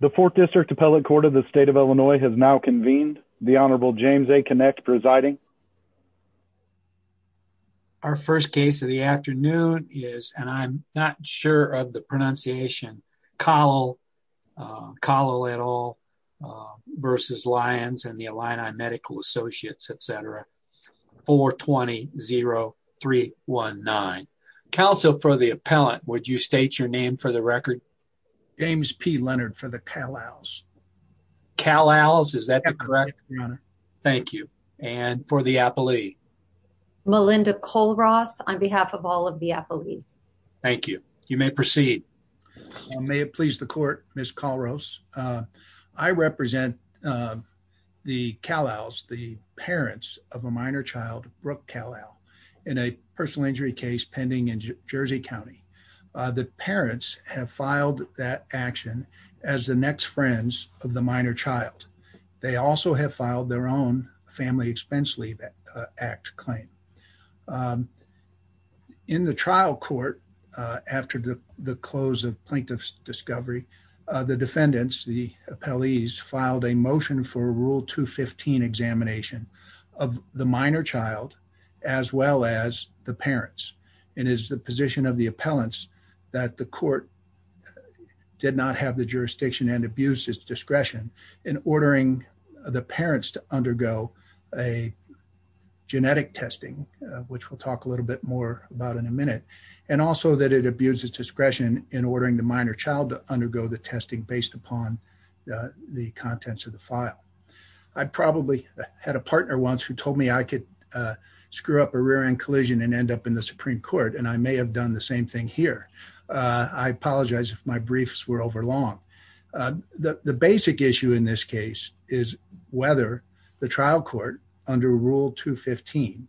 The fourth district appellate court of the state of Illinois has now convened. The Honorable James A. Kinect presiding. Our first case of the afternoon is, and I'm not sure of the pronunciation, Kallal et al versus Lyons and the Illini Medical Associates, etc. 420-0319. Counsel for the appellant, would you state your name for the record? James P. Leonard for the Kallals. Kallals, is that correct? Thank you. And for the appellee? Melinda Colross on behalf of all of the appellees. Thank you. You may proceed. May it please the court, Ms. Colross. I represent the Kallals, the parents of a minor child, Brooke Kallal, in a personal injury case pending in Jersey County. The parents have filed that action as the next friends of the minor child. They also have filed their own Family Expense Leave Act claim. In the trial court, after the close of plaintiff's discovery, the defendants, the appellees, filed a motion for Rule 215 examination of the minor child, as well as the parents. It is the position of the appellants that the court did not have the jurisdiction and abuses discretion in ordering the parents to undergo a genetic testing, which we'll talk a little bit more about in a minute, and also that it abuses discretion in ordering the minor child to undergo the testing based upon the contents of the file. I probably had a partner once who told me I could screw up a rear-end collision and end up in the Supreme Court, and I may have done the same thing here. I apologize if my briefs were overlong. The basic issue in this case is whether the trial court, under Rule 215,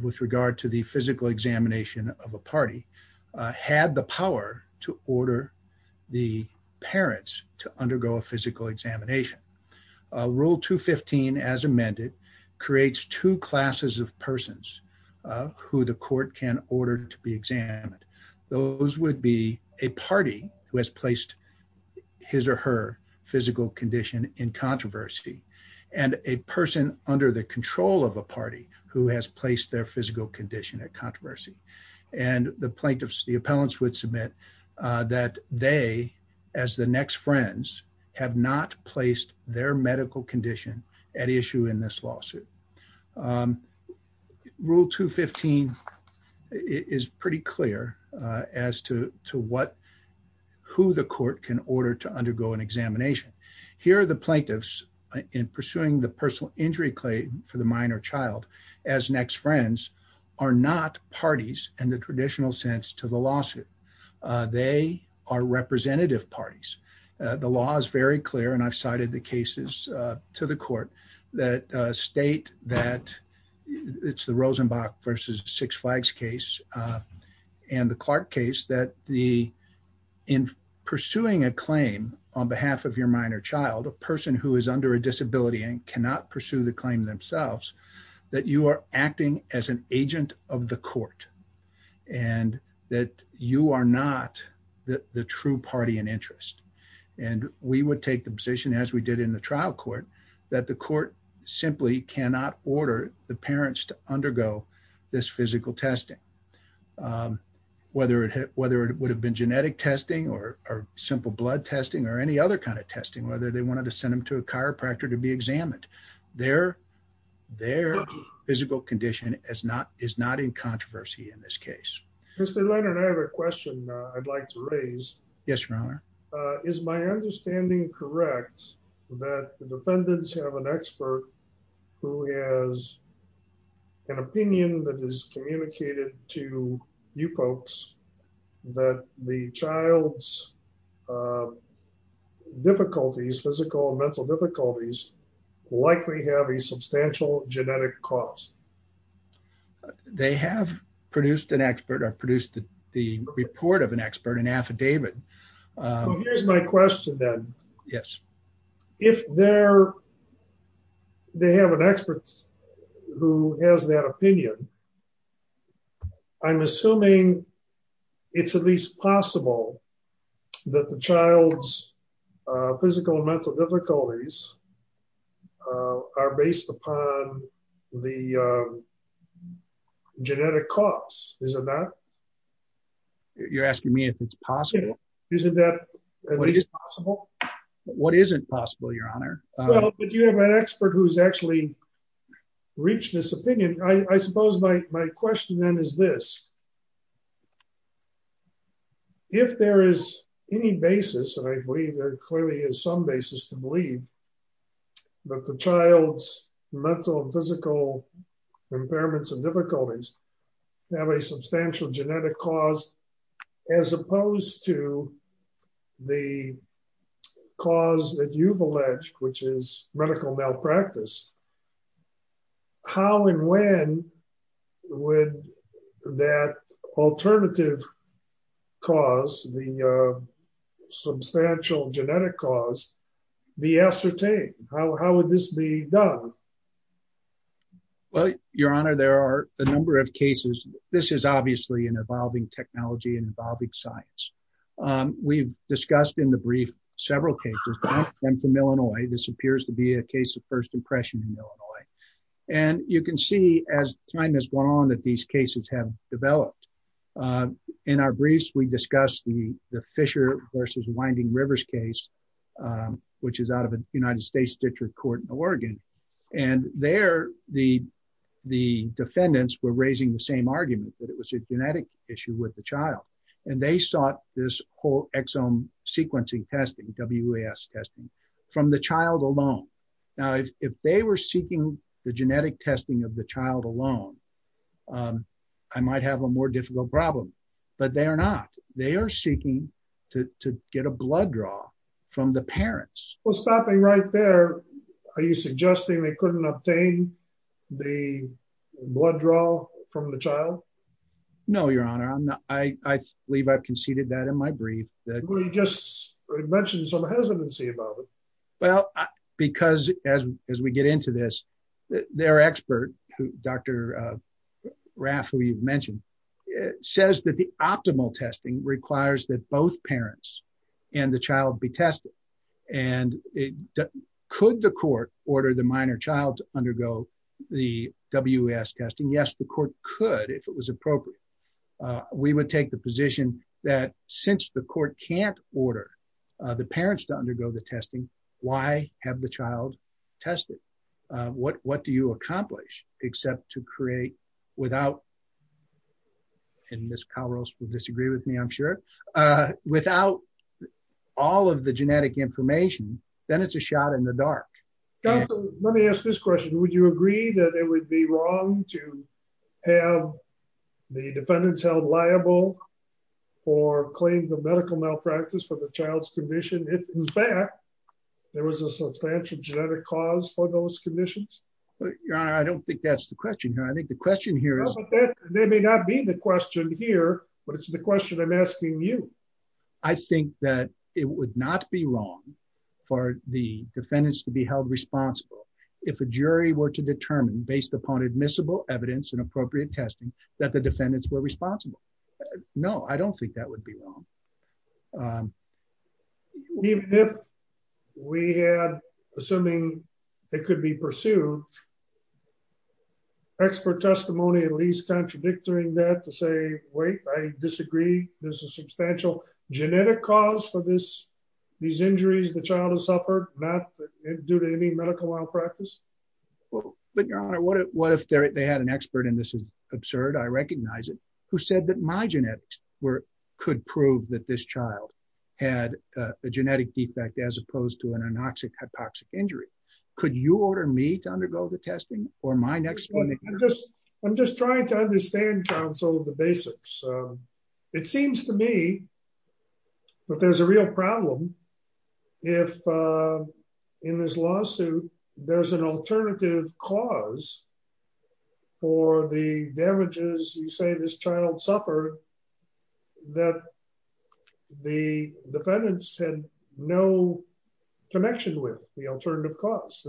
with regard to the physical examination of a party, had the power to order the parents to undergo a physical examination. Rule 215, as amended, creates two classes of persons who the court can order to be examined. Those would be a party who has placed his or her physical condition in controversy, and a person under the control of a party who has placed their physical condition at controversy, and the medical condition at issue in this lawsuit. Rule 215 is pretty clear as to who the court can order to undergo an examination. Here, the plaintiffs, in pursuing the personal injury claim for the minor child as next friends, are not parties in the traditional sense to the lawsuit. They are representative parties. The law is very clear, and I've cited the cases to the court that state that it's the Rosenbach versus Six Flags case and the Clark case that in pursuing a claim on behalf of your minor child, a person who is under a disability and cannot pursue the claim themselves, that you are acting as an agent of the court, and that you are not the true party in interest. We would take the position, as we did in the trial court, that the court simply cannot order the parents to undergo this physical testing, whether it would have been genetic testing or simple blood testing or any other kind of testing, whether they wanted to send them to a chiropractor to be examined. Their physical condition is not in controversy in this case. Mr. Leonard, I have a question I'd like to raise. Yes, your honor. Is my understanding correct that the defendants have an expert who has an opinion that is communicated to you folks that the child's difficulties, physical and mental difficulties, likely have a substantial genetic cost? They have produced an expert. I've produced the report of an expert, an affidavit. Here's my question then. Yes. If they have an expert who has that opinion, I'm assuming it's at least possible that the child's physical and mental difficulties are based upon the genetic costs. Is it not? You're asking me if it's possible? Isn't that at least possible? What isn't possible, your honor? Well, but you have an expert who's actually reached this opinion. I suppose my question then is this. If there is any basis, and I believe there clearly is some basis to believe, that the child's mental and physical impairments and difficulties have a substantial genetic cause as opposed to the cause that you've alleged, which is medical malpractice, how and when would that alternative cause, the substantial genetic cause, be ascertained? How would this be done? Well, your honor, there are a number of cases. This is obviously an evolving technology and evolving science. We've discussed in the brief several cases. I'm from Illinois. This appears to be a case of first impression in Illinois. You can see as time has gone on that these cases have developed. In our briefs, we discussed the Fisher versus Winding Rivers case, which is out of a United States district court in Oregon. There, the defendants were raising the same argument that it was a genetic issue with the child. They sought this whole exome sequencing testing, WAS testing, from the child alone. Now, if they were seeking the genetic testing of the child alone, I might have a more difficult problem, but they are not. They are seeking to get a blood draw from the parents. Well, stopping right there, are you suggesting they couldn't obtain the blood draw from the child? No, your honor. I believe I've conceded that in my brief. You just mentioned some hesitancy about it. Well, because as we get into this, their expert, Dr. Raff, who you've mentioned, says that the optimal testing requires that both parents and the child be tested. Could the court order the minor child to undergo the WAS testing? Yes, the court could if it was appropriate. We would take the position that since the court can't order the parents to undergo the testing, why have the child tested? What do you accomplish except to create without, and Ms. Calrose will disagree with me, I'm sure, without all of the genetic information, then it's a shot in the dark. Let me ask this question. Would you agree that it would be wrong to have the defendants held liable for claims of medical malpractice for the child's condition if in fact there was a substantial genetic cause for those conditions? Your honor, I don't think that's the question here. I think the question here is... They may not be the question here, but it's the question I'm asking you. I think that it would not be wrong for the defendants to be held responsible if a jury were to determine, based upon admissible evidence and appropriate testing, that the defendants were responsible. No, I don't think that would be wrong. Even if we had, assuming it could be pursued, expert testimony at least contradicting that to say, wait, I disagree, there's a substantial genetic cause for these injuries the child has suffered, not due to any medical malpractice? But your honor, what if they had an expert, and this is absurd, I recognize it, who said that my genetics could prove that this child had a genetic defect as opposed to an anoxic hypoxic injury? Could you order me to undergo the testing? I'm just trying to understand, counsel, the basics. It seems to me that there's a real problem if, in this lawsuit, there's an alternative cause for the damages, you say, this child suffered that the defendants had no connection with, the alternative cause.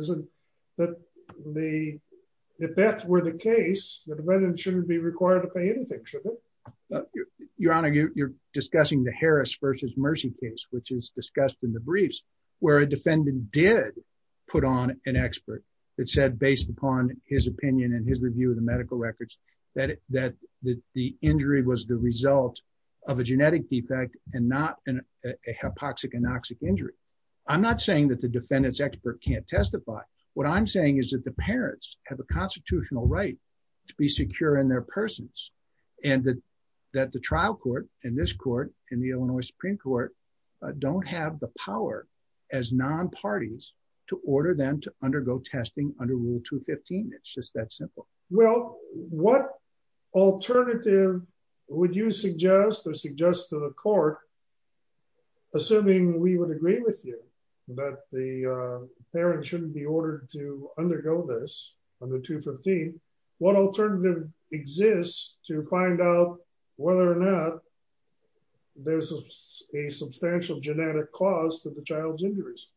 If that were the case, the defendant shouldn't be required to pay anything, but your honor, you're discussing the Harris versus Mercy case, which is discussed in the briefs, where a defendant did put on an expert that said, based upon his opinion and his review of the medical records, that the injury was the result of a genetic defect and not a hypoxic anoxic injury. I'm not saying that the defendant's expert can't testify. What I'm saying is that the trial court and this court and the Illinois Supreme Court don't have the power as non-parties to order them to undergo testing under Rule 215. It's just that simple. Well, what alternative would you suggest or suggest to the court, assuming we would agree with you that the parent shouldn't be ordered to undergo this under 215, what alternative exists to find out whether or not there's a substantial genetic cause to the child's injuries?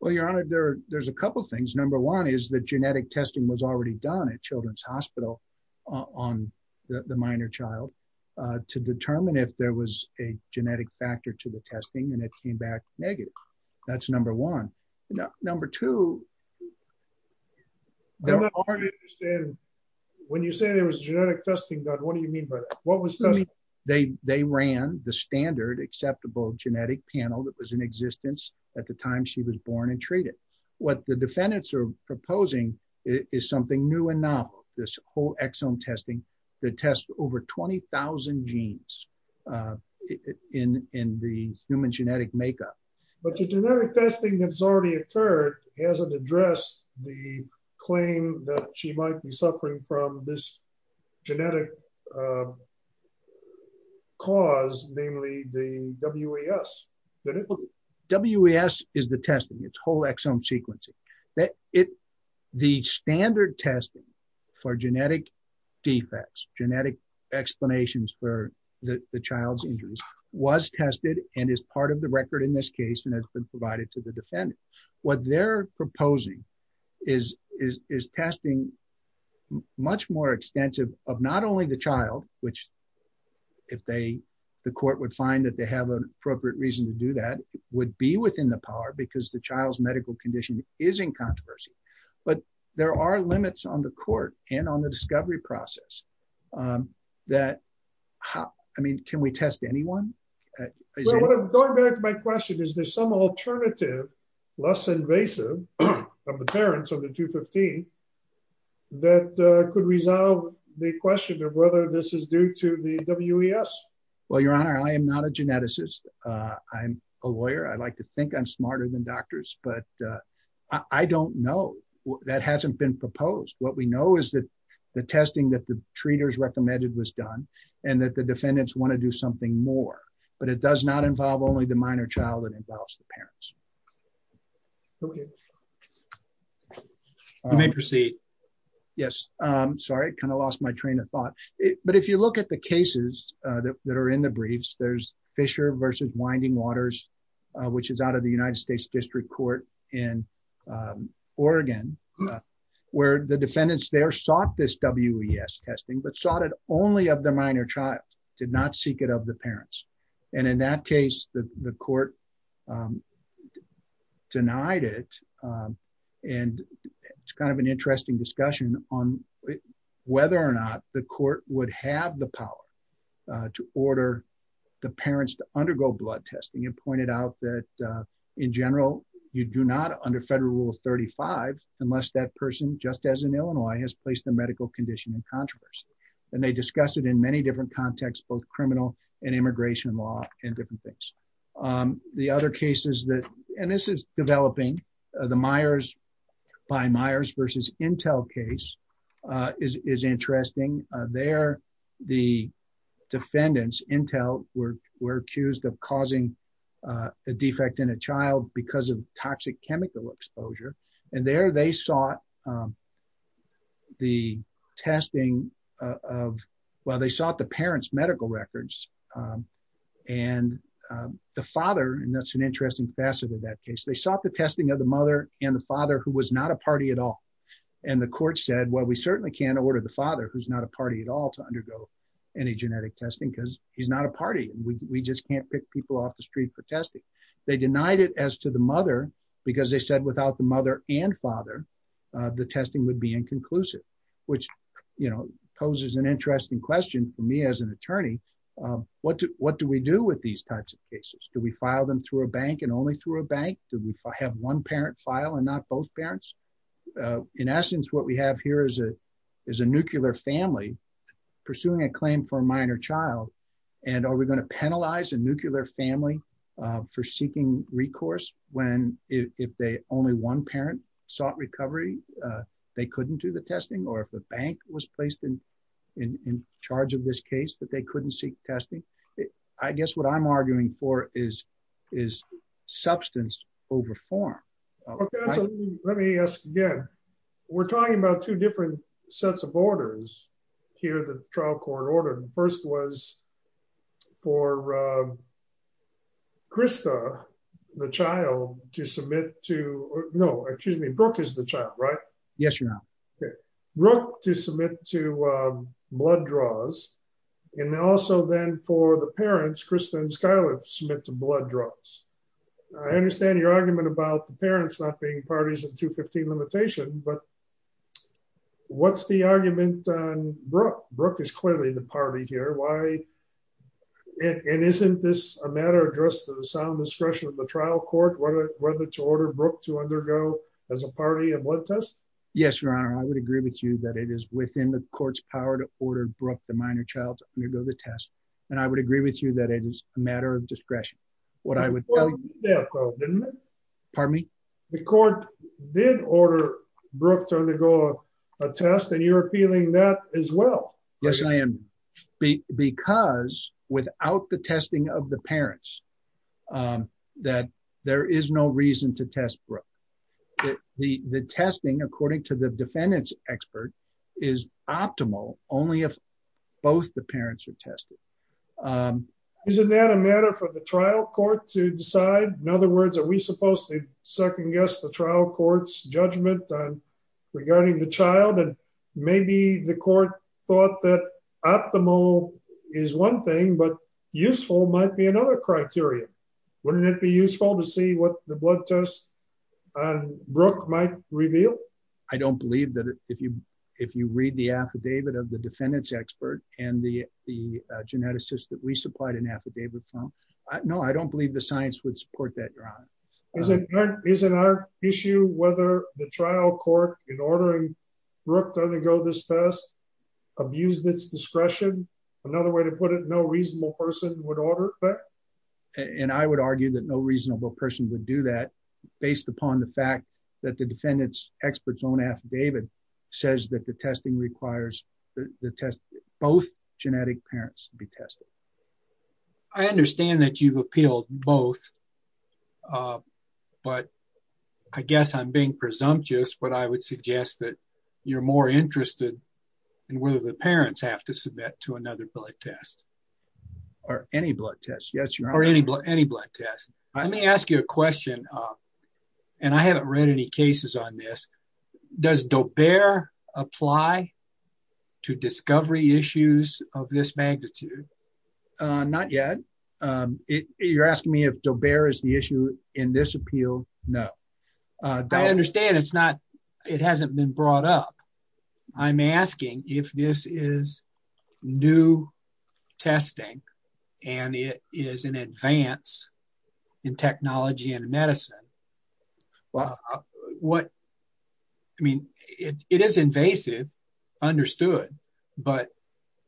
Well, your honor, there's a couple of things. Number one is that genetic testing was already done at Children's Hospital on the minor child to determine if there was a genetic factor to the testing and it came back negative. That's number one. Number two, I don't understand. When you say there was genetic testing done, what do you mean by that? What was tested? They ran the standard acceptable genetic panel that was in existence at the time she was born and treated. What the defendants are proposing is something new and novel, this whole exome testing that tests over 20,000 genes in the human genetic makeup. But the genetic testing that's already occurred hasn't addressed the claim that she might be suffering from this genetic cause, namely the WES. WES is the testing, it's whole exome sequencing. The standard testing for genetic defects, genetic explanations for the child's injuries was tested and is part of the record in this case and has been provided to the defendant. What they're proposing is testing much more extensive of not only the child, which the court would find that they have an appropriate reason to do that, would be within the power because the child's medical condition is in controversy. But there are limits on the court and on the discovery process. Can we test anyone? Going back to my question, is there some alternative, less invasive of the parents of the 215 that could resolve the question of whether this is due to the WES? Your Honor, I am not a geneticist. I'm a lawyer. I like to think I'm smarter than doctors, but I don't know. That hasn't been proposed. What we know is that the testing that the treaters recommended was done and that the defendants want to do something more, but it does not involve only the minor child, it involves the parents. Okay. You may proceed. Yes. Sorry, I kind of lost my train of thought. But if you look at the cases that are in the briefs, there's Fisher versus Winding Waters, which is out of the United States District Court in Oregon, where the defendants there sought this WES testing, but sought it only of the minor child, did not seek it of the parents. And in that case, the court denied it. And it's kind of an interesting discussion on whether or not the court would have the power to order the parents to undergo blood testing and pointed out that, in general, you do not under Federal Rule 35, unless that person, just as in Illinois, has placed a medical condition in controversy. And they discussed it in many different contexts, both criminal and immigration law and different things. The other cases that, and this is developing, the Myers by Myers versus Intel case is interesting. There, the defendants, Intel, were accused of causing a defect in a child because of toxic chemical exposure. And there they sought the testing of, well, they sought the parents' medical records. And the father, and that's an interesting facet of that case, they sought the testing of the mother and the father who was not a party at all. And the court said, well, we certainly can't order the father who's not a party at all to undergo any genetic testing because he's not a party. We just can't pick people off the street for testing. They denied it as to the mother, because they said without the mother and father, the testing would be inconclusive, which poses an interesting question for me as an attorney. What do we do with these types of cases? Do we file them through a bank only through a bank? Do we have one parent file and not both parents? In essence, what we have here is a, is a nuclear family pursuing a claim for a minor child. And are we going to penalize a nuclear family for seeking recourse when if they only one parent sought recovery, they couldn't do the testing or if a bank was placed in charge of this case that they couldn't seek testing? I guess what I'm arguing for is, is substance over form. Let me ask again, we're talking about two different sets of orders here, the trial court order. The first was for Krista, the child to submit to, no, excuse me, Brooke is the child, right? Yes, okay. Brooke to submit to blood draws. And also then for the parents, Krista and Skyler submit to blood draws. I understand your argument about the parents not being parties of 215 limitation, but what's the argument on Brooke? Brooke is clearly the party here. Why? And isn't this a matter addressed to the sound discretion of the trial court, whether to order to undergo as a party of what test? Yes, your honor. I would agree with you that it is within the court's power to order Brooke, the minor child to undergo the test. And I would agree with you that it is a matter of discretion. What I would tell you, pardon me, the court did order Brooke to undergo a test and you're appealing that as well. Yes, I am. Because without the Brooke, the testing, according to the defendant's expert is optimal only if both the parents are tested. Isn't that a matter for the trial court to decide? In other words, are we supposed to second guess the trial court's judgment regarding the child? And maybe the court thought that optimal is one thing, but useful might be another criteria. Wouldn't it be useful to see what the test on Brooke might reveal? I don't believe that if you read the affidavit of the defendant's expert and the geneticist that we supplied an affidavit from, no, I don't believe the science would support that, your honor. Isn't our issue whether the trial court in ordering Brooke to undergo this test abused its discretion? Another way to put it, no reasonable person would order that. And I would argue that no reasonable person would do that based upon the fact that the defendant's expert's own affidavit says that the testing requires the test, both genetic parents to be tested. I understand that you've appealed both, but I guess I'm being presumptuous, but I would suggest that you're more interested in whether the parents have to submit to another blood test or any blood test. Yes, your honor. Or any blood test. Let me ask you a question, and I haven't read any cases on this. Does Dobear apply to discovery issues of this magnitude? Not yet. You're asking me if Dobear is the issue in this appeal? No. I understand it hasn't been tested, and it is an advance in technology and medicine. It is invasive, understood, but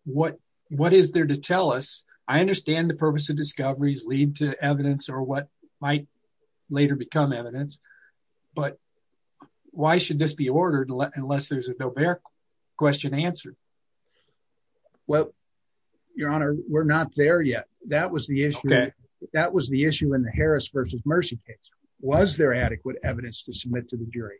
what is there to tell us? I understand the purpose of discoveries lead to evidence or what might later become evidence, but why should this be ordered unless there's a Dobear question answer? Well, your honor, we're not there yet. That was the issue. That was the issue in the Harris versus Mercy case. Was there adequate evidence to submit to the jury?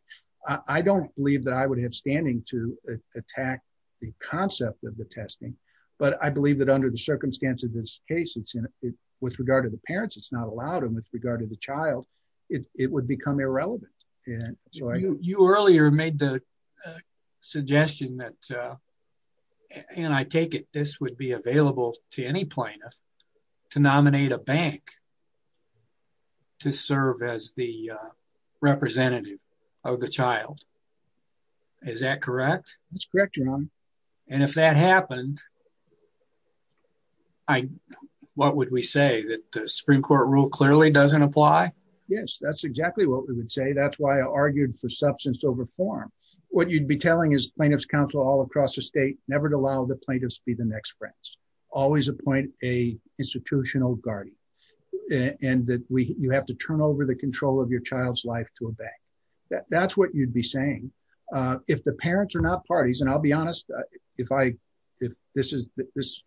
I don't believe that I would have standing to attack the concept of the testing, but I believe that under the circumstance of this case, it's in it with regard to the parents. It's not allowed him with regard to the child. It would become irrelevant. You earlier made the suggestion that, and I take it this would be available to any plaintiff to nominate a bank to serve as the representative of the child. Is that correct? That's correct, your honor. If that happened, what would we say? That the Supreme Court rule clearly doesn't apply? Yes, that's exactly what we would say. That's why I argued for substance over form. What you'd be telling is plaintiff's counsel all across the state never to allow the plaintiffs to be the next friends. Always appoint a institutional guardian and that you have to turn over the control of your child's life to a bank. That's what you'd be saying. If the parents, if this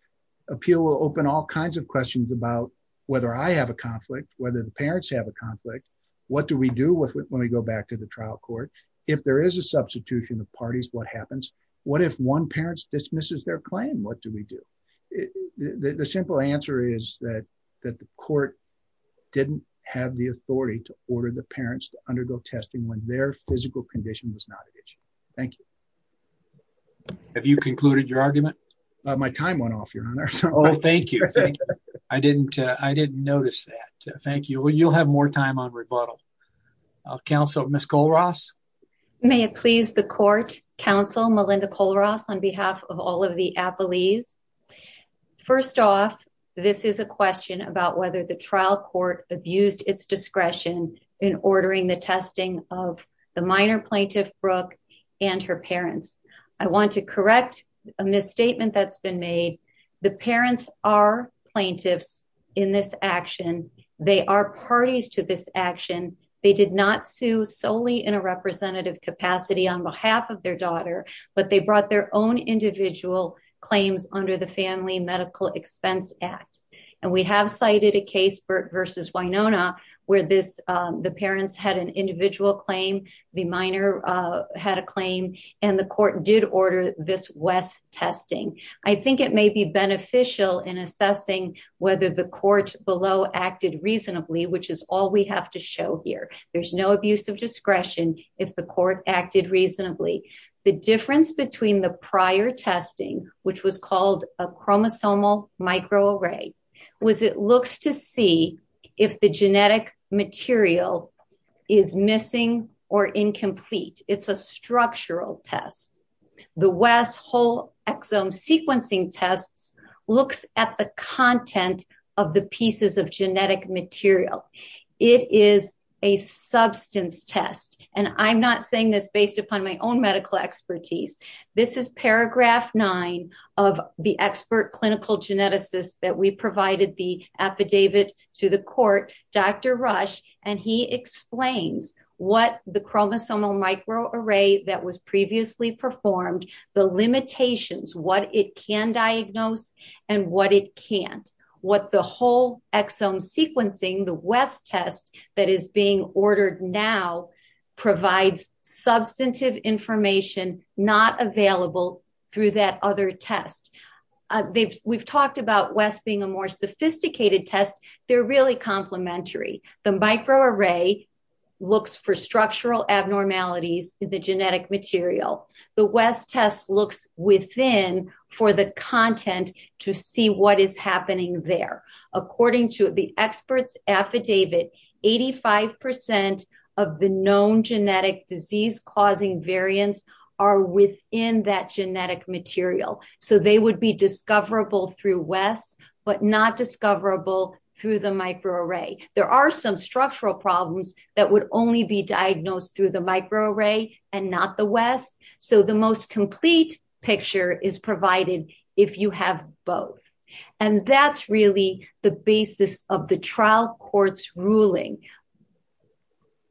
appeal will open all kinds of questions about whether I have a conflict, whether the parents have a conflict, what do we do when we go back to the trial court? If there is a substitution of parties, what happens? What if one parent dismisses their claim? What do we do? The simple answer is that the court didn't have the authority to order the parents to undergo testing when their physical condition was not an issue. Thank you. You concluded your argument? My time went off, your honor. Thank you. I didn't notice that. Thank you. You'll have more time on rebuttal. Counsel, Ms. Colross? May it please the court, counsel Melinda Colross on behalf of all of the appellees. First off, this is a question about whether the trial court abused its discretion in ordering the testing of the minor plaintiff, Brooke, and her parents. I want to correct a misstatement that's been made. The parents are plaintiffs in this action. They are parties to this action. They did not sue solely in a representative capacity on behalf of their daughter, but they brought their own individual claims under the Family Medical Expense Act. We have cited a case, Burt v. Winona, where the parents had an individual claim, the minor had a claim, and the court did order this Wess testing. I think it may be beneficial in assessing whether the court below acted reasonably, which is all we have to show here. There's no abuse of discretion if the court acted reasonably. The difference between the prior testing, which was called a chromosomal microarray, was it looks to see if the genetic material is missing or incomplete. It's a structural test. The Wess whole exome sequencing tests looks at the content of the pieces of genetic material. It is a substance test, and I'm not saying this based upon my own medical expertise. This is paragraph nine of the expert clinical geneticist that we provided the affidavit to the court, Dr. Rush, and he explains what the chromosomal microarray that was previously performed, the limitations, what it can diagnose and what it can't, what the whole exome sequencing, the Wess test that is being ordered now provides substantive information not available through that other test. We've talked about Wess being a more sophisticated test. They're really complementary. The microarray looks for structural abnormalities in the genetic material. The Wess test looks within for the content to see what is happening there. According to the expert's affidavit, 85% of the known genetic disease-causing variants are within that genetic material. They would be discoverable through Wess, but not discoverable through the microarray. There are some structural problems that would only be diagnosed through the microarray and not the Wess. The most complete picture is provided if you have both. That's really the basis of the trial court's ruling.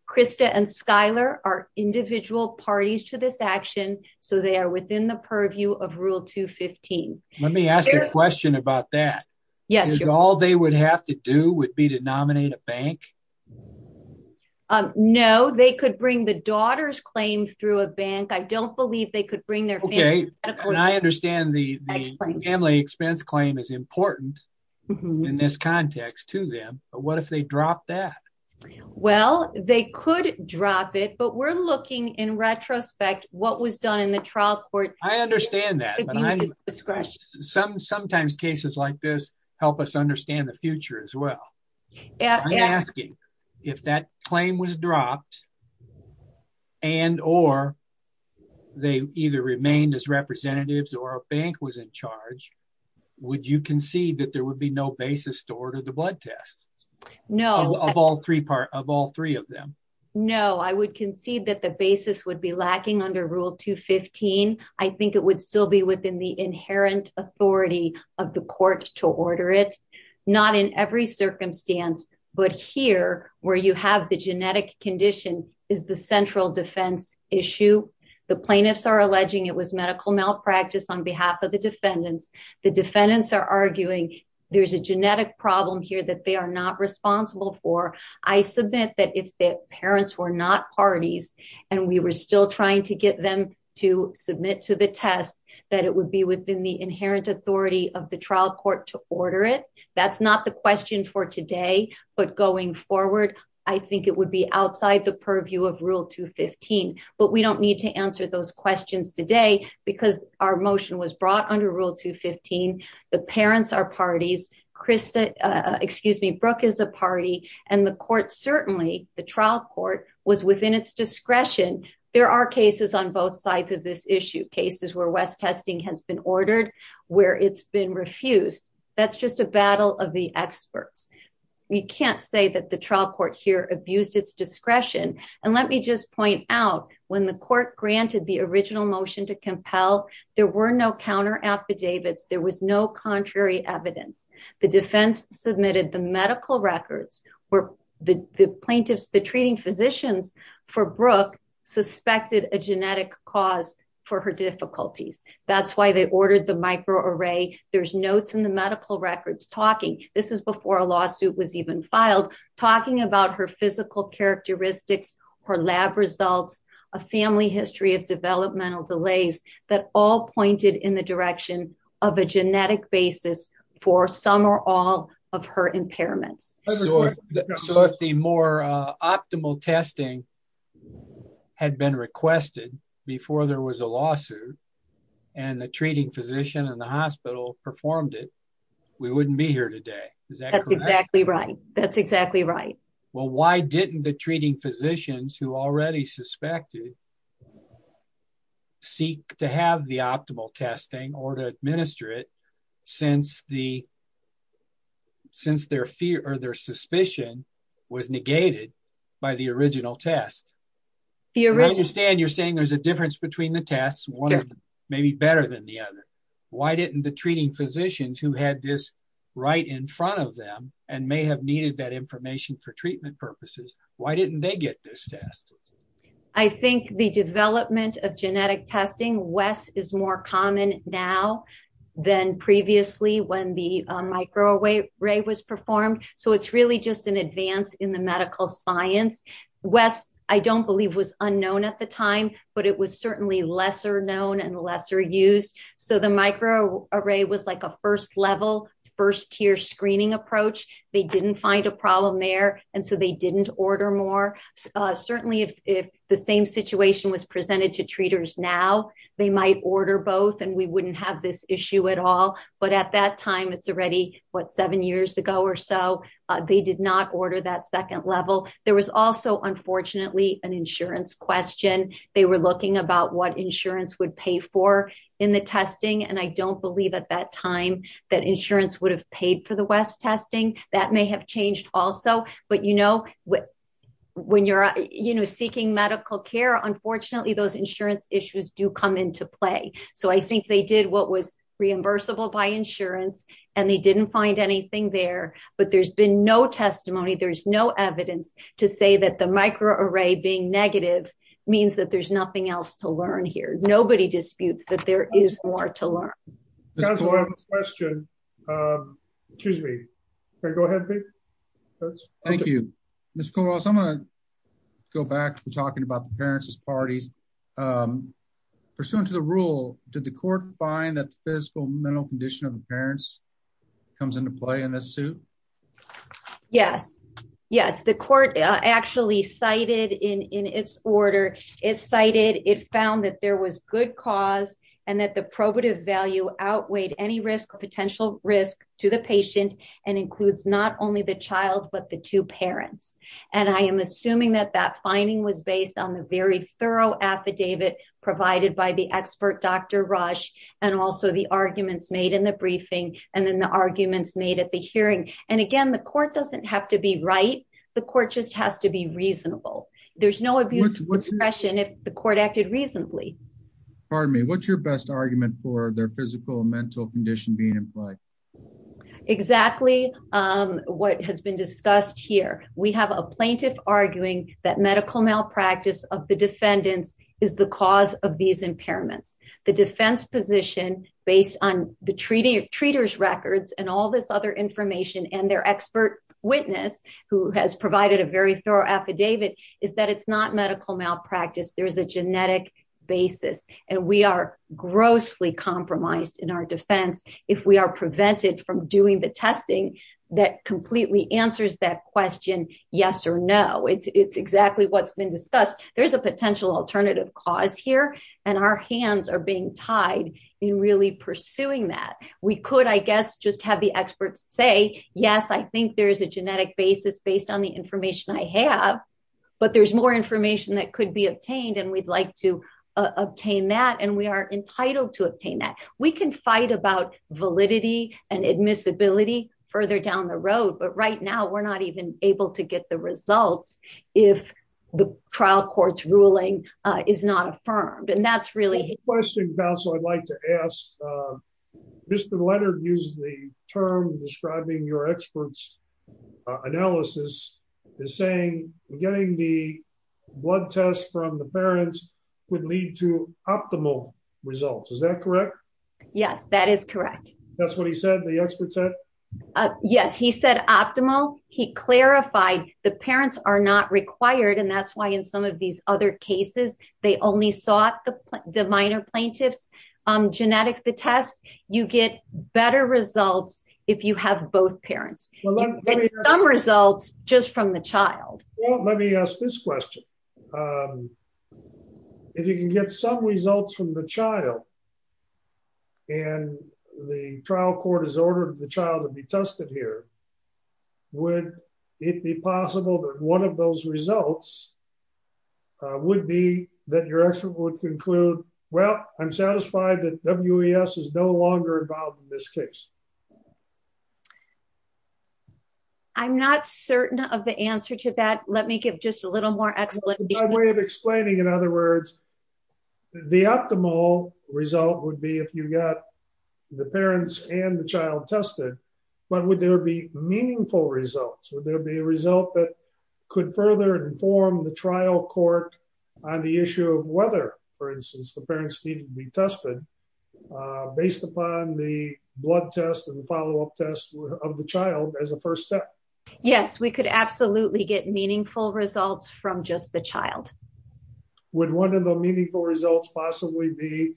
Krista and Skyler are individual parties to this action, so they are within the purview of Rule 215. Let me ask a question about that. All they would have to do would be to nominate a bank? No, they could bring the daughter's claim through a bank. I don't believe they could bring their daughter's claim through a bank. I understand the family expense claim is important in this context to them, but what if they drop that? They could drop it, but we're looking in retrospect at what was done in the trial court. I understand that, but sometimes cases like this help us understand the future as well. I'm asking, if that claim was dropped and or they either remained as representatives or a bank was in charge, would you concede that there would be no basis to order the blood test of all three of them? No, I would concede that the basis would be lacking under Rule 215. I think it would still be within the inherent authority of the court to order it. Not in every circumstance, but here, where you have the genetic condition, is the central defense issue. The plaintiffs are alleging it was medical malpractice on behalf of the defendants. The defendants are arguing there's a genetic problem here that they are not responsible for. I submit that if the parents were not parties and we were still trying to get them to submit to the test, that it would be within the inherent authority of the trial court to order it. That's not the question for today, but going forward, I think it would be outside the purview of Rule 215, but we don't need to answer those questions today because our motion was brought under Rule 215. The parents are parties. Brooke is a party and the court certainly, the trial court, was within its discretion. There are cases on both sides of this issue, cases where West testing has been ordered, where it's been refused. That's just a battle of the experts. We can't say that the trial court here abused its discretion and let me just point out, when the court granted the original motion to compel, there were no counter-affidavits. There was no contrary evidence. The defense submitted the medical records where the treating physicians for Brooke suspected a genetic cause for her difficulties. That's why they ordered the microarray. There's notes in the medical records talking, this is before a lawsuit was even filed, talking about her physical characteristics, her lab results, a family history of developmental delays, that all pointed in the direction of a genetic basis for some or all of her impairments. So if the more optimal testing had been requested before there was a lawsuit and the treating physician in the hospital performed it, we wouldn't be here today. That's exactly right. That's exactly right. Well, why didn't the treating physicians who already suspected seek to have the optimal testing or to administer it since their suspicion was negated by the original test? I understand you're saying there's a difference between the tests. One is maybe better than the other. Why didn't the treating physicians who had this right in front of them and may have needed that information for treatment purposes, why didn't they get this test? I think the development of genetic testing, WESS, is more common now than previously when the microarray was performed. So it's really just an advance in the medical science. WESS, I don't believe, was unknown at the time, but it was certainly lesser known and lesser used. So the microarray was like a first level, first tier screening approach. They didn't find a problem there, and so they didn't order more. Certainly, if the same situation was presented to treaters now, they might order both and we wouldn't have this issue at all. But at that time, it's already, what, seven years ago or so, they did not order that second level. There was also, unfortunately, an insurance question. They were looking about what insurance would pay for in the testing, and I don't believe at that time that insurance would have paid for the WESS testing. That may have changed also. But you know, when you're seeking medical care, unfortunately, those insurance issues do come into play. So I think they did what was reimbursable by insurance, and they didn't find anything there. But there's been no testimony, there's no evidence to say that the microarray being negative means that there's nothing else to learn here. Nobody disputes that there is more to learn. Mr. Koros, I have a question. Excuse me. Go ahead, Pete. Thank you. Mr. Koros, I'm going to go back to talking about the parents' parties. Pursuant to the rule, did the court find that the physical mental condition of the parents comes into play in this suit? Yes. Yes. The court actually cited in its order, it cited, it found that there was good cause and that the probative value outweighed any risk or potential risk to the patient, and includes not only the child, but the two parents. And I am assuming that that finding was based on the very thorough affidavit provided by the expert, Dr. Raj, and also the arguments made in the briefing, and then the arguments made at the hearing. And again, the court doesn't have to be right. The court just has to be reasonable. There's no abuse of discretion if the court acted reasonably. Pardon me. What's your best argument for their physical mental condition being in play? Exactly what has been discussed here. We have a plaintiff arguing that medical malpractice of the defendants is the cause of these impairments. The defense position, based on the treater's records and all this other information, and their expert witness, who has provided a very thorough affidavit, is that it's not medical malpractice. There's a genetic basis. And we are grossly compromised in our defense if we are prevented from doing the testing that completely answers that question, yes or no. It's exactly what's been discussed. There's a potential alternative cause here, and our hands are being tied in really pursuing that. We could, I guess, just have the experts say, yes, I think there's a genetic basis based on the information I have, but there's more information that could be obtained, and we'd like to obtain that, and we are entitled to obtain that. We can fight about validity and admissibility further down the road, but right now, we're not even able to get the results if the trial court's ruling is not affirmed. And that's really- One question, counsel, I'd like to ask. Mr. Leonard used the term describing your expert's analysis as saying getting the blood test from the parents would lead to optimal results. Is that correct? Yes, that is correct. That's what he said, the expert said? Yes, he said optimal. He clarified the parents are not required, and that's why in some of these other cases, they only sought the minor plaintiff's genetic, the test, you get better results if you have both parents, and some results just from the child. Well, let me ask this question. If you can get some results from the child, and the trial court has ordered the child to be tested here, would it be possible that one of those results would be that your expert would conclude, well, I'm satisfied that WES is no longer involved in this case? I'm not certain of the answer to that. Let me give just a little more explanation. By way of explaining, in other words, the optimal result would be if you got the parents and the child tested, but would there be meaningful results? Would there be a result that could further inform the trial court on the issue of whether, for instance, the parents need to be tested based upon the blood test and the follow-up test of the child as a first step? Yes, we could absolutely get meaningful results from just the child. Would one of the meaningful results possibly be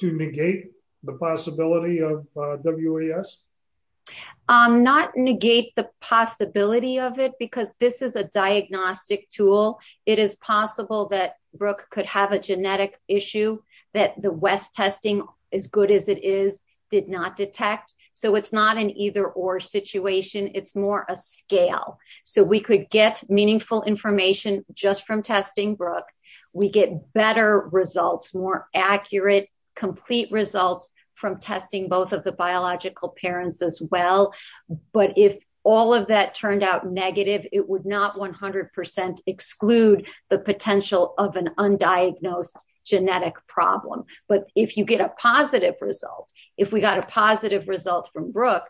to negate the possibility of WES? Not negate the possibility of it, because this is a diagnostic tool. It is possible that Brook could have a genetic issue that the WES testing, as good as it is, did not detect. So, it's not an either-or situation. It's more a scale. So, we could get meaningful information just from testing Brook. We get better results, more accurate, complete results from testing both the biological parents as well. But if all of that turned out negative, it would not 100% exclude the potential of an undiagnosed genetic problem. But if you get a positive result, if we got a positive result from Brook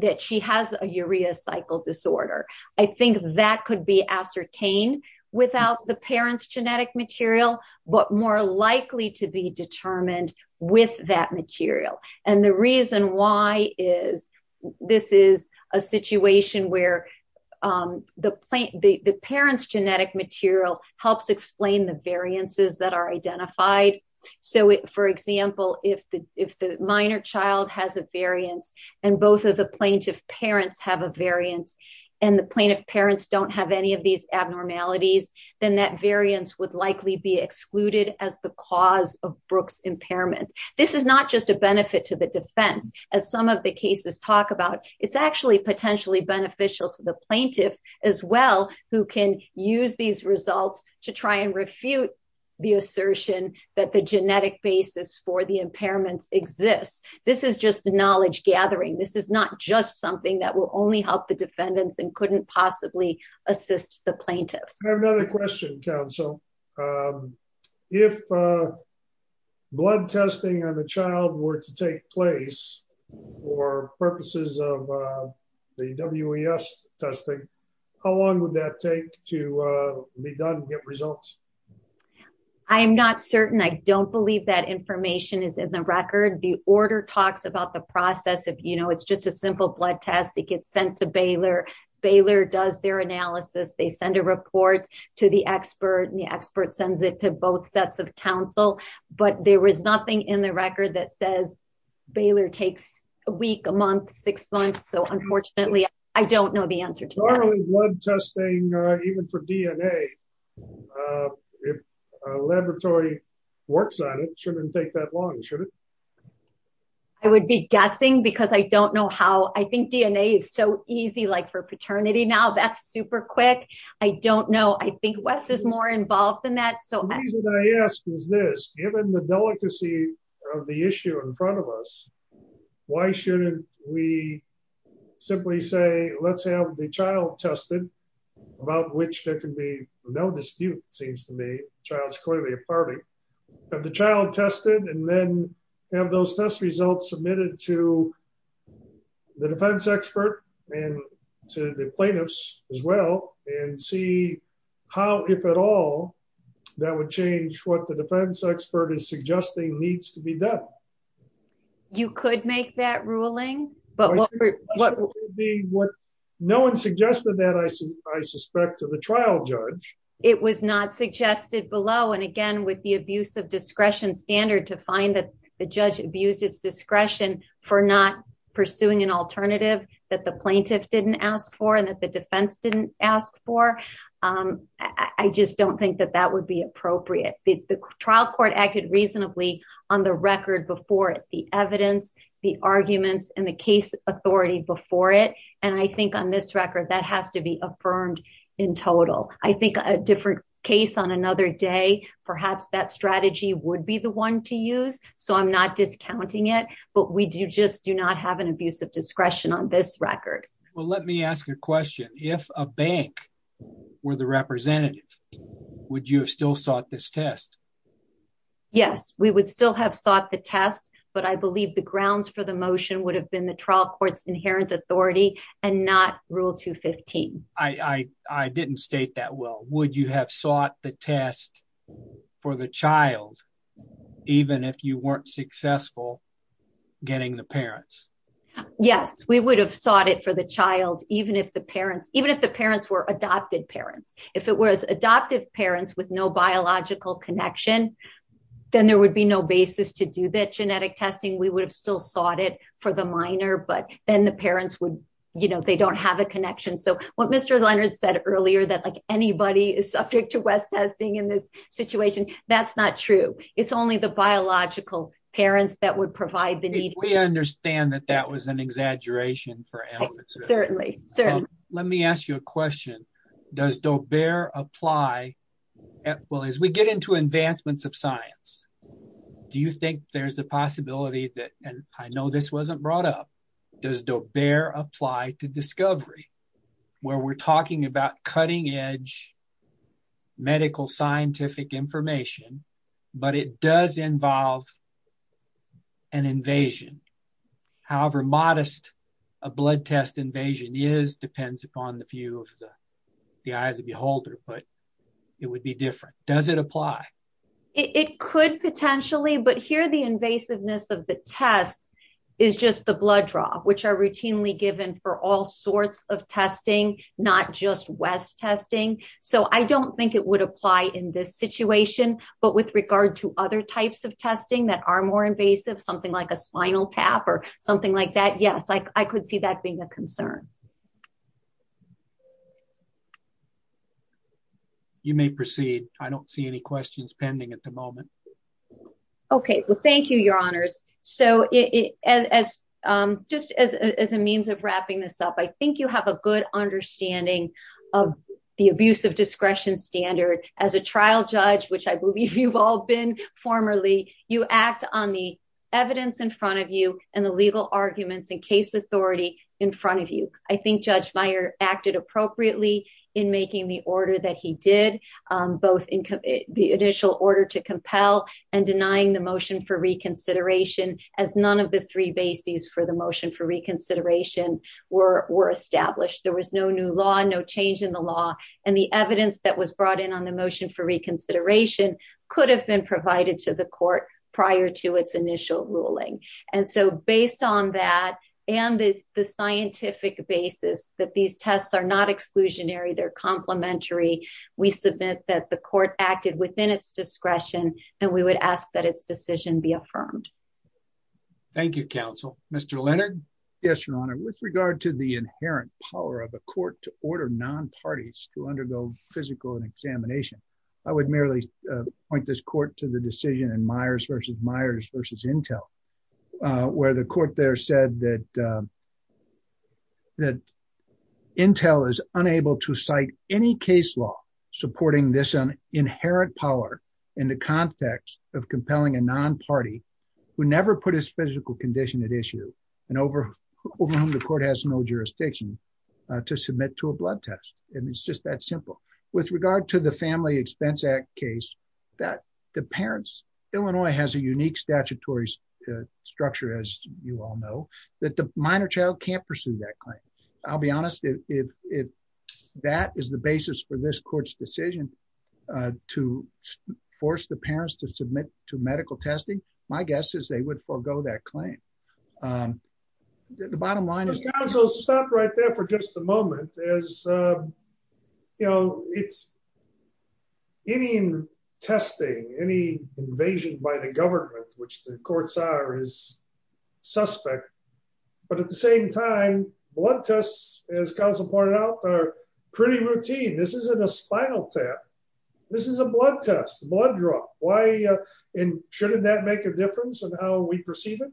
that she has a urea cycle disorder, I think that could be ascertained without the parents' genetic material, but more likely to be determined with that genetic material. The reason why is this is a situation where the parent's genetic material helps explain the variances that are identified. So, for example, if the minor child has a variance and both of the plaintiff parents have a variance and the plaintiff parents don't have any of these abnormalities, then that variance would likely be excluded as the cause of Brook's impairment. This is not just a benefit to the defense. As some of the cases talk about, it's actually potentially beneficial to the plaintiff as well who can use these results to try and refute the assertion that the genetic basis for the impairments exists. This is just knowledge gathering. This is not just something that will only help the defendants and couldn't possibly assist the plaintiffs. I have another question, counsel. If blood testing on the child were to take place for purposes of the WES testing, how long would that take to be done and get results? I am not certain. I don't believe that information is in the record. The order talks about the they send a report to the expert and the expert sends it to both sets of counsel, but there is nothing in the record that says Baylor takes a week, a month, six months. So, unfortunately, I don't know the answer to that. Normally, blood testing, even for DNA, if a laboratory works on it, shouldn't take that long, should it? I would be guessing because I don't know how. I think DNA is so easy, like for paternity now, that's super quick. I don't know. I think WES is more involved than that. The reason I ask is this. Given the delicacy of the issue in front of us, why shouldn't we simply say, let's have the child tested, about which there can be no dispute, it seems to me. The child is clearly a party. Have the child tested and then have those test results submitted to the defense expert and to the plaintiffs as well and see how, if at all, that would change what the defense expert is suggesting needs to be done. You could make that ruling. No one suggested that, I suspect, to the trial judge. It was not suggested below. Again, with the abuse of discretion standard, to find that the judge abused its discretion for not pursuing an alternative that the plaintiff didn't ask for and that the defense didn't ask for, I just don't think that that would be appropriate. The trial court acted reasonably on the record before it, the evidence, the arguments, and the case authority before it. I think on this record, that has to be affirmed in total. I think a different case on another day, perhaps that strategy would be the one to use, so I'm not discounting it, but we just do not have an abuse of discretion on this record. Well, let me ask a question. If a bank were the representative, would you have still sought this test? Yes, we would still have sought the test, but I believe the grounds for the motion would have been the trial court's inherent authority and not Rule 215. I didn't state that well. Would you have sought the test for the child, even if you weren't successful getting the parents? Yes, we would have sought it for the child, even if the parents were adopted parents. If it was adoptive parents with no biological connection, then there would be no basis to do that genetic testing. We would have still sought it the minor, but then the parents don't have a connection. What Mr. Leonard said earlier, that anybody is subject to West testing in this situation, that's not true. It's only the biological parents that would provide the need. We understand that that was an exaggeration for Alpha. Let me ask you a question. As we get into advancements of science, do you think there's the possibility that, and I know this wasn't brought up, does Dober apply to discovery, where we're talking about cutting edge medical scientific information, but it does involve an invasion. However modest a blood test invasion is depends upon the view of the eye of the beholder, but it would be different. Does it apply? It could potentially, but here the invasiveness of the test is just the blood draw, which are routinely given for all sorts of testing, not just West testing. I don't think it would apply in this situation, but with regard to other types of testing that are more invasive, something like a spinal tap or something like that, yes, I could see that being a concern. You may proceed. I don't see any questions pending at the moment. Okay. Well, thank you, your honors. So just as a means of wrapping this up, I think you have a good understanding of the abuse of discretion standard as a trial judge, which I believe you've all been formerly, you act on the evidence in front of you and the legal arguments and case authority in front of you. I think judge Meyer acted appropriately in making the order that he did both in the initial order to compel and denying the motion for reconsideration as none of the three bases for the motion for reconsideration were established. There was no new law, no change in the law and the evidence that was brought in on the motion for reconsideration could have been provided to the court prior to its initial ruling. And so based on that and the scientific basis that these tests are not exclusionary, they're complimentary. We submit that the court acted within its discretion and we would ask that its decision be affirmed. Thank you, counsel, Mr. Leonard. Yes, your honor. With regard to the inherent power of a court to order non-parties to undergo physical and examination, I would merely point this court to the decision in Myers versus Myers versus Intel, where the court there said that Intel is unable to cite any case law supporting this inherent power in the context of compelling a non-party who never put his physical condition at issue and over whom the court has no jurisdiction to submit to a blood test. And it's just that simple. With regard to the Family Expense Act that the parents, Illinois has a unique statutory structure, as you all know, that the minor child can't pursue that claim. I'll be honest, if that is the basis for this court's decision to force the parents to submit to medical testing, my guess is they would forego that claim. The bottom line is... Counsel, stop right there for just a moment as, you know, it's any testing, any invasion by the government, which the courts are, is suspect. But at the same time, blood tests, as counsel pointed out, are pretty routine. This isn't a spinal tap. This is a blood test, blood draw. Why... And shouldn't that make a difference in how we perceive it?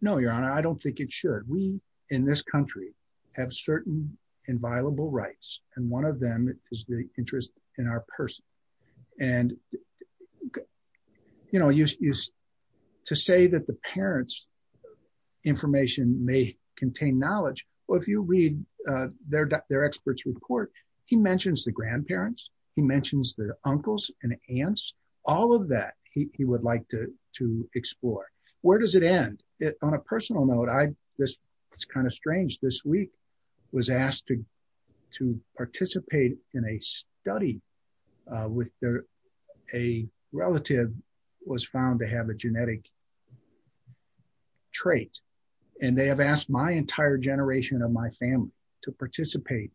No, your honor, I don't think it should. We, in this country, have certain inviolable rights, and one of them is the interest in our person. And, you know, to say that the parents' information may contain knowledge, well, if you read their expert's report, he mentions the grandparents, he mentions the uncles and aunts, all of that he would like to explore. Where does it end? On a personal note, this is kind of strange. This week, I was asked to participate in a study with a relative who was found to have a genetic trait. And they have asked my entire generation of my family to participate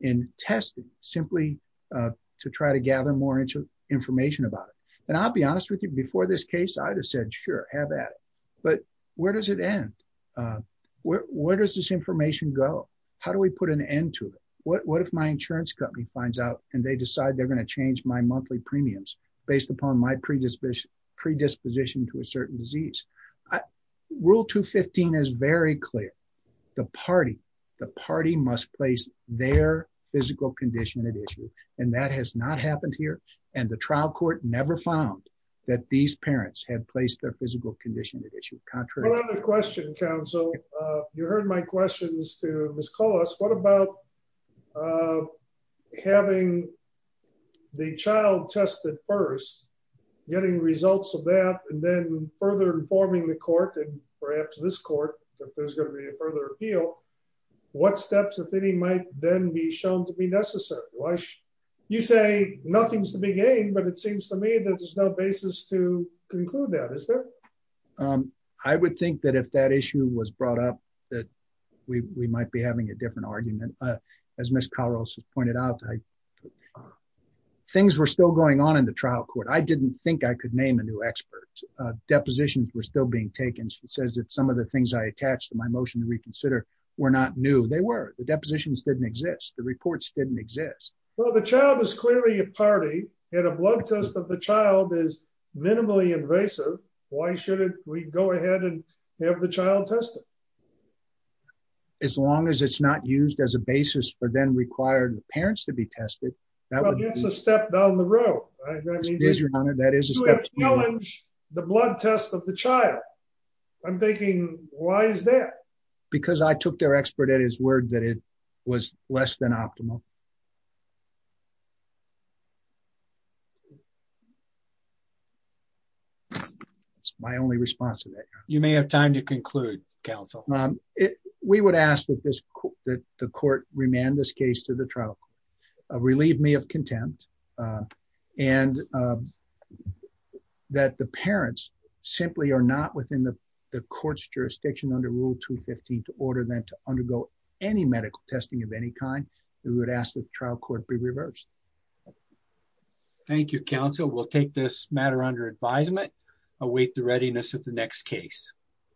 in testing, simply to try to gather more information about it. And I'll be honest with you, before this case, I would have said, sure, have at it. But where does it end? Where does this information go? How do we put an end to it? What if my insurance company finds out and they decide they're going to change my monthly premiums based upon my predisposition to a certain disease? Rule 215 is very clear. The party, the party must place their physical condition at issue, and that has not happened here. And the trial court never found that these parents had placed their physical condition at issue. Contrary. One other question, counsel. You heard my questions to Ms. Colas. What about having the child tested first, getting results of that, and then further informing the court, and perhaps this court, if there's going to be a further appeal, what steps, if any, might then be shown to be necessary? You say nothing's to be gained, but it seems to me that there's no basis to conclude that, is there? I would think that if that issue was brought up, that we might be having a different argument. As Ms. Colas pointed out, things were still going on in the trial court. I didn't think I could name a new expert. Depositions were still being taken. She says that some of the things I attached to my motion to the court, the depositions didn't exist. The reports didn't exist. Well, the child is clearly a party, and a blood test of the child is minimally invasive. Why shouldn't we go ahead and have the child tested? As long as it's not used as a basis for then requiring the parents to be tested, that would be... Well, it's a step down the road. It is, Your Honor, that is a step down the road. The blood test of the child. I'm thinking, why is that? Because I took their expert at his word that it was less than optimal. That's my only response to that, Your Honor. You may have time to conclude, counsel. We would ask that the court remand this case to the trial court, relieve me of contempt, and that the parents simply are not within the court's jurisdiction under Rule 215 to order them to undergo any medical testing of any kind. We would ask that the trial court be reversed. Thank you, counsel. We'll take this matter under advisement, await the readiness of the next case.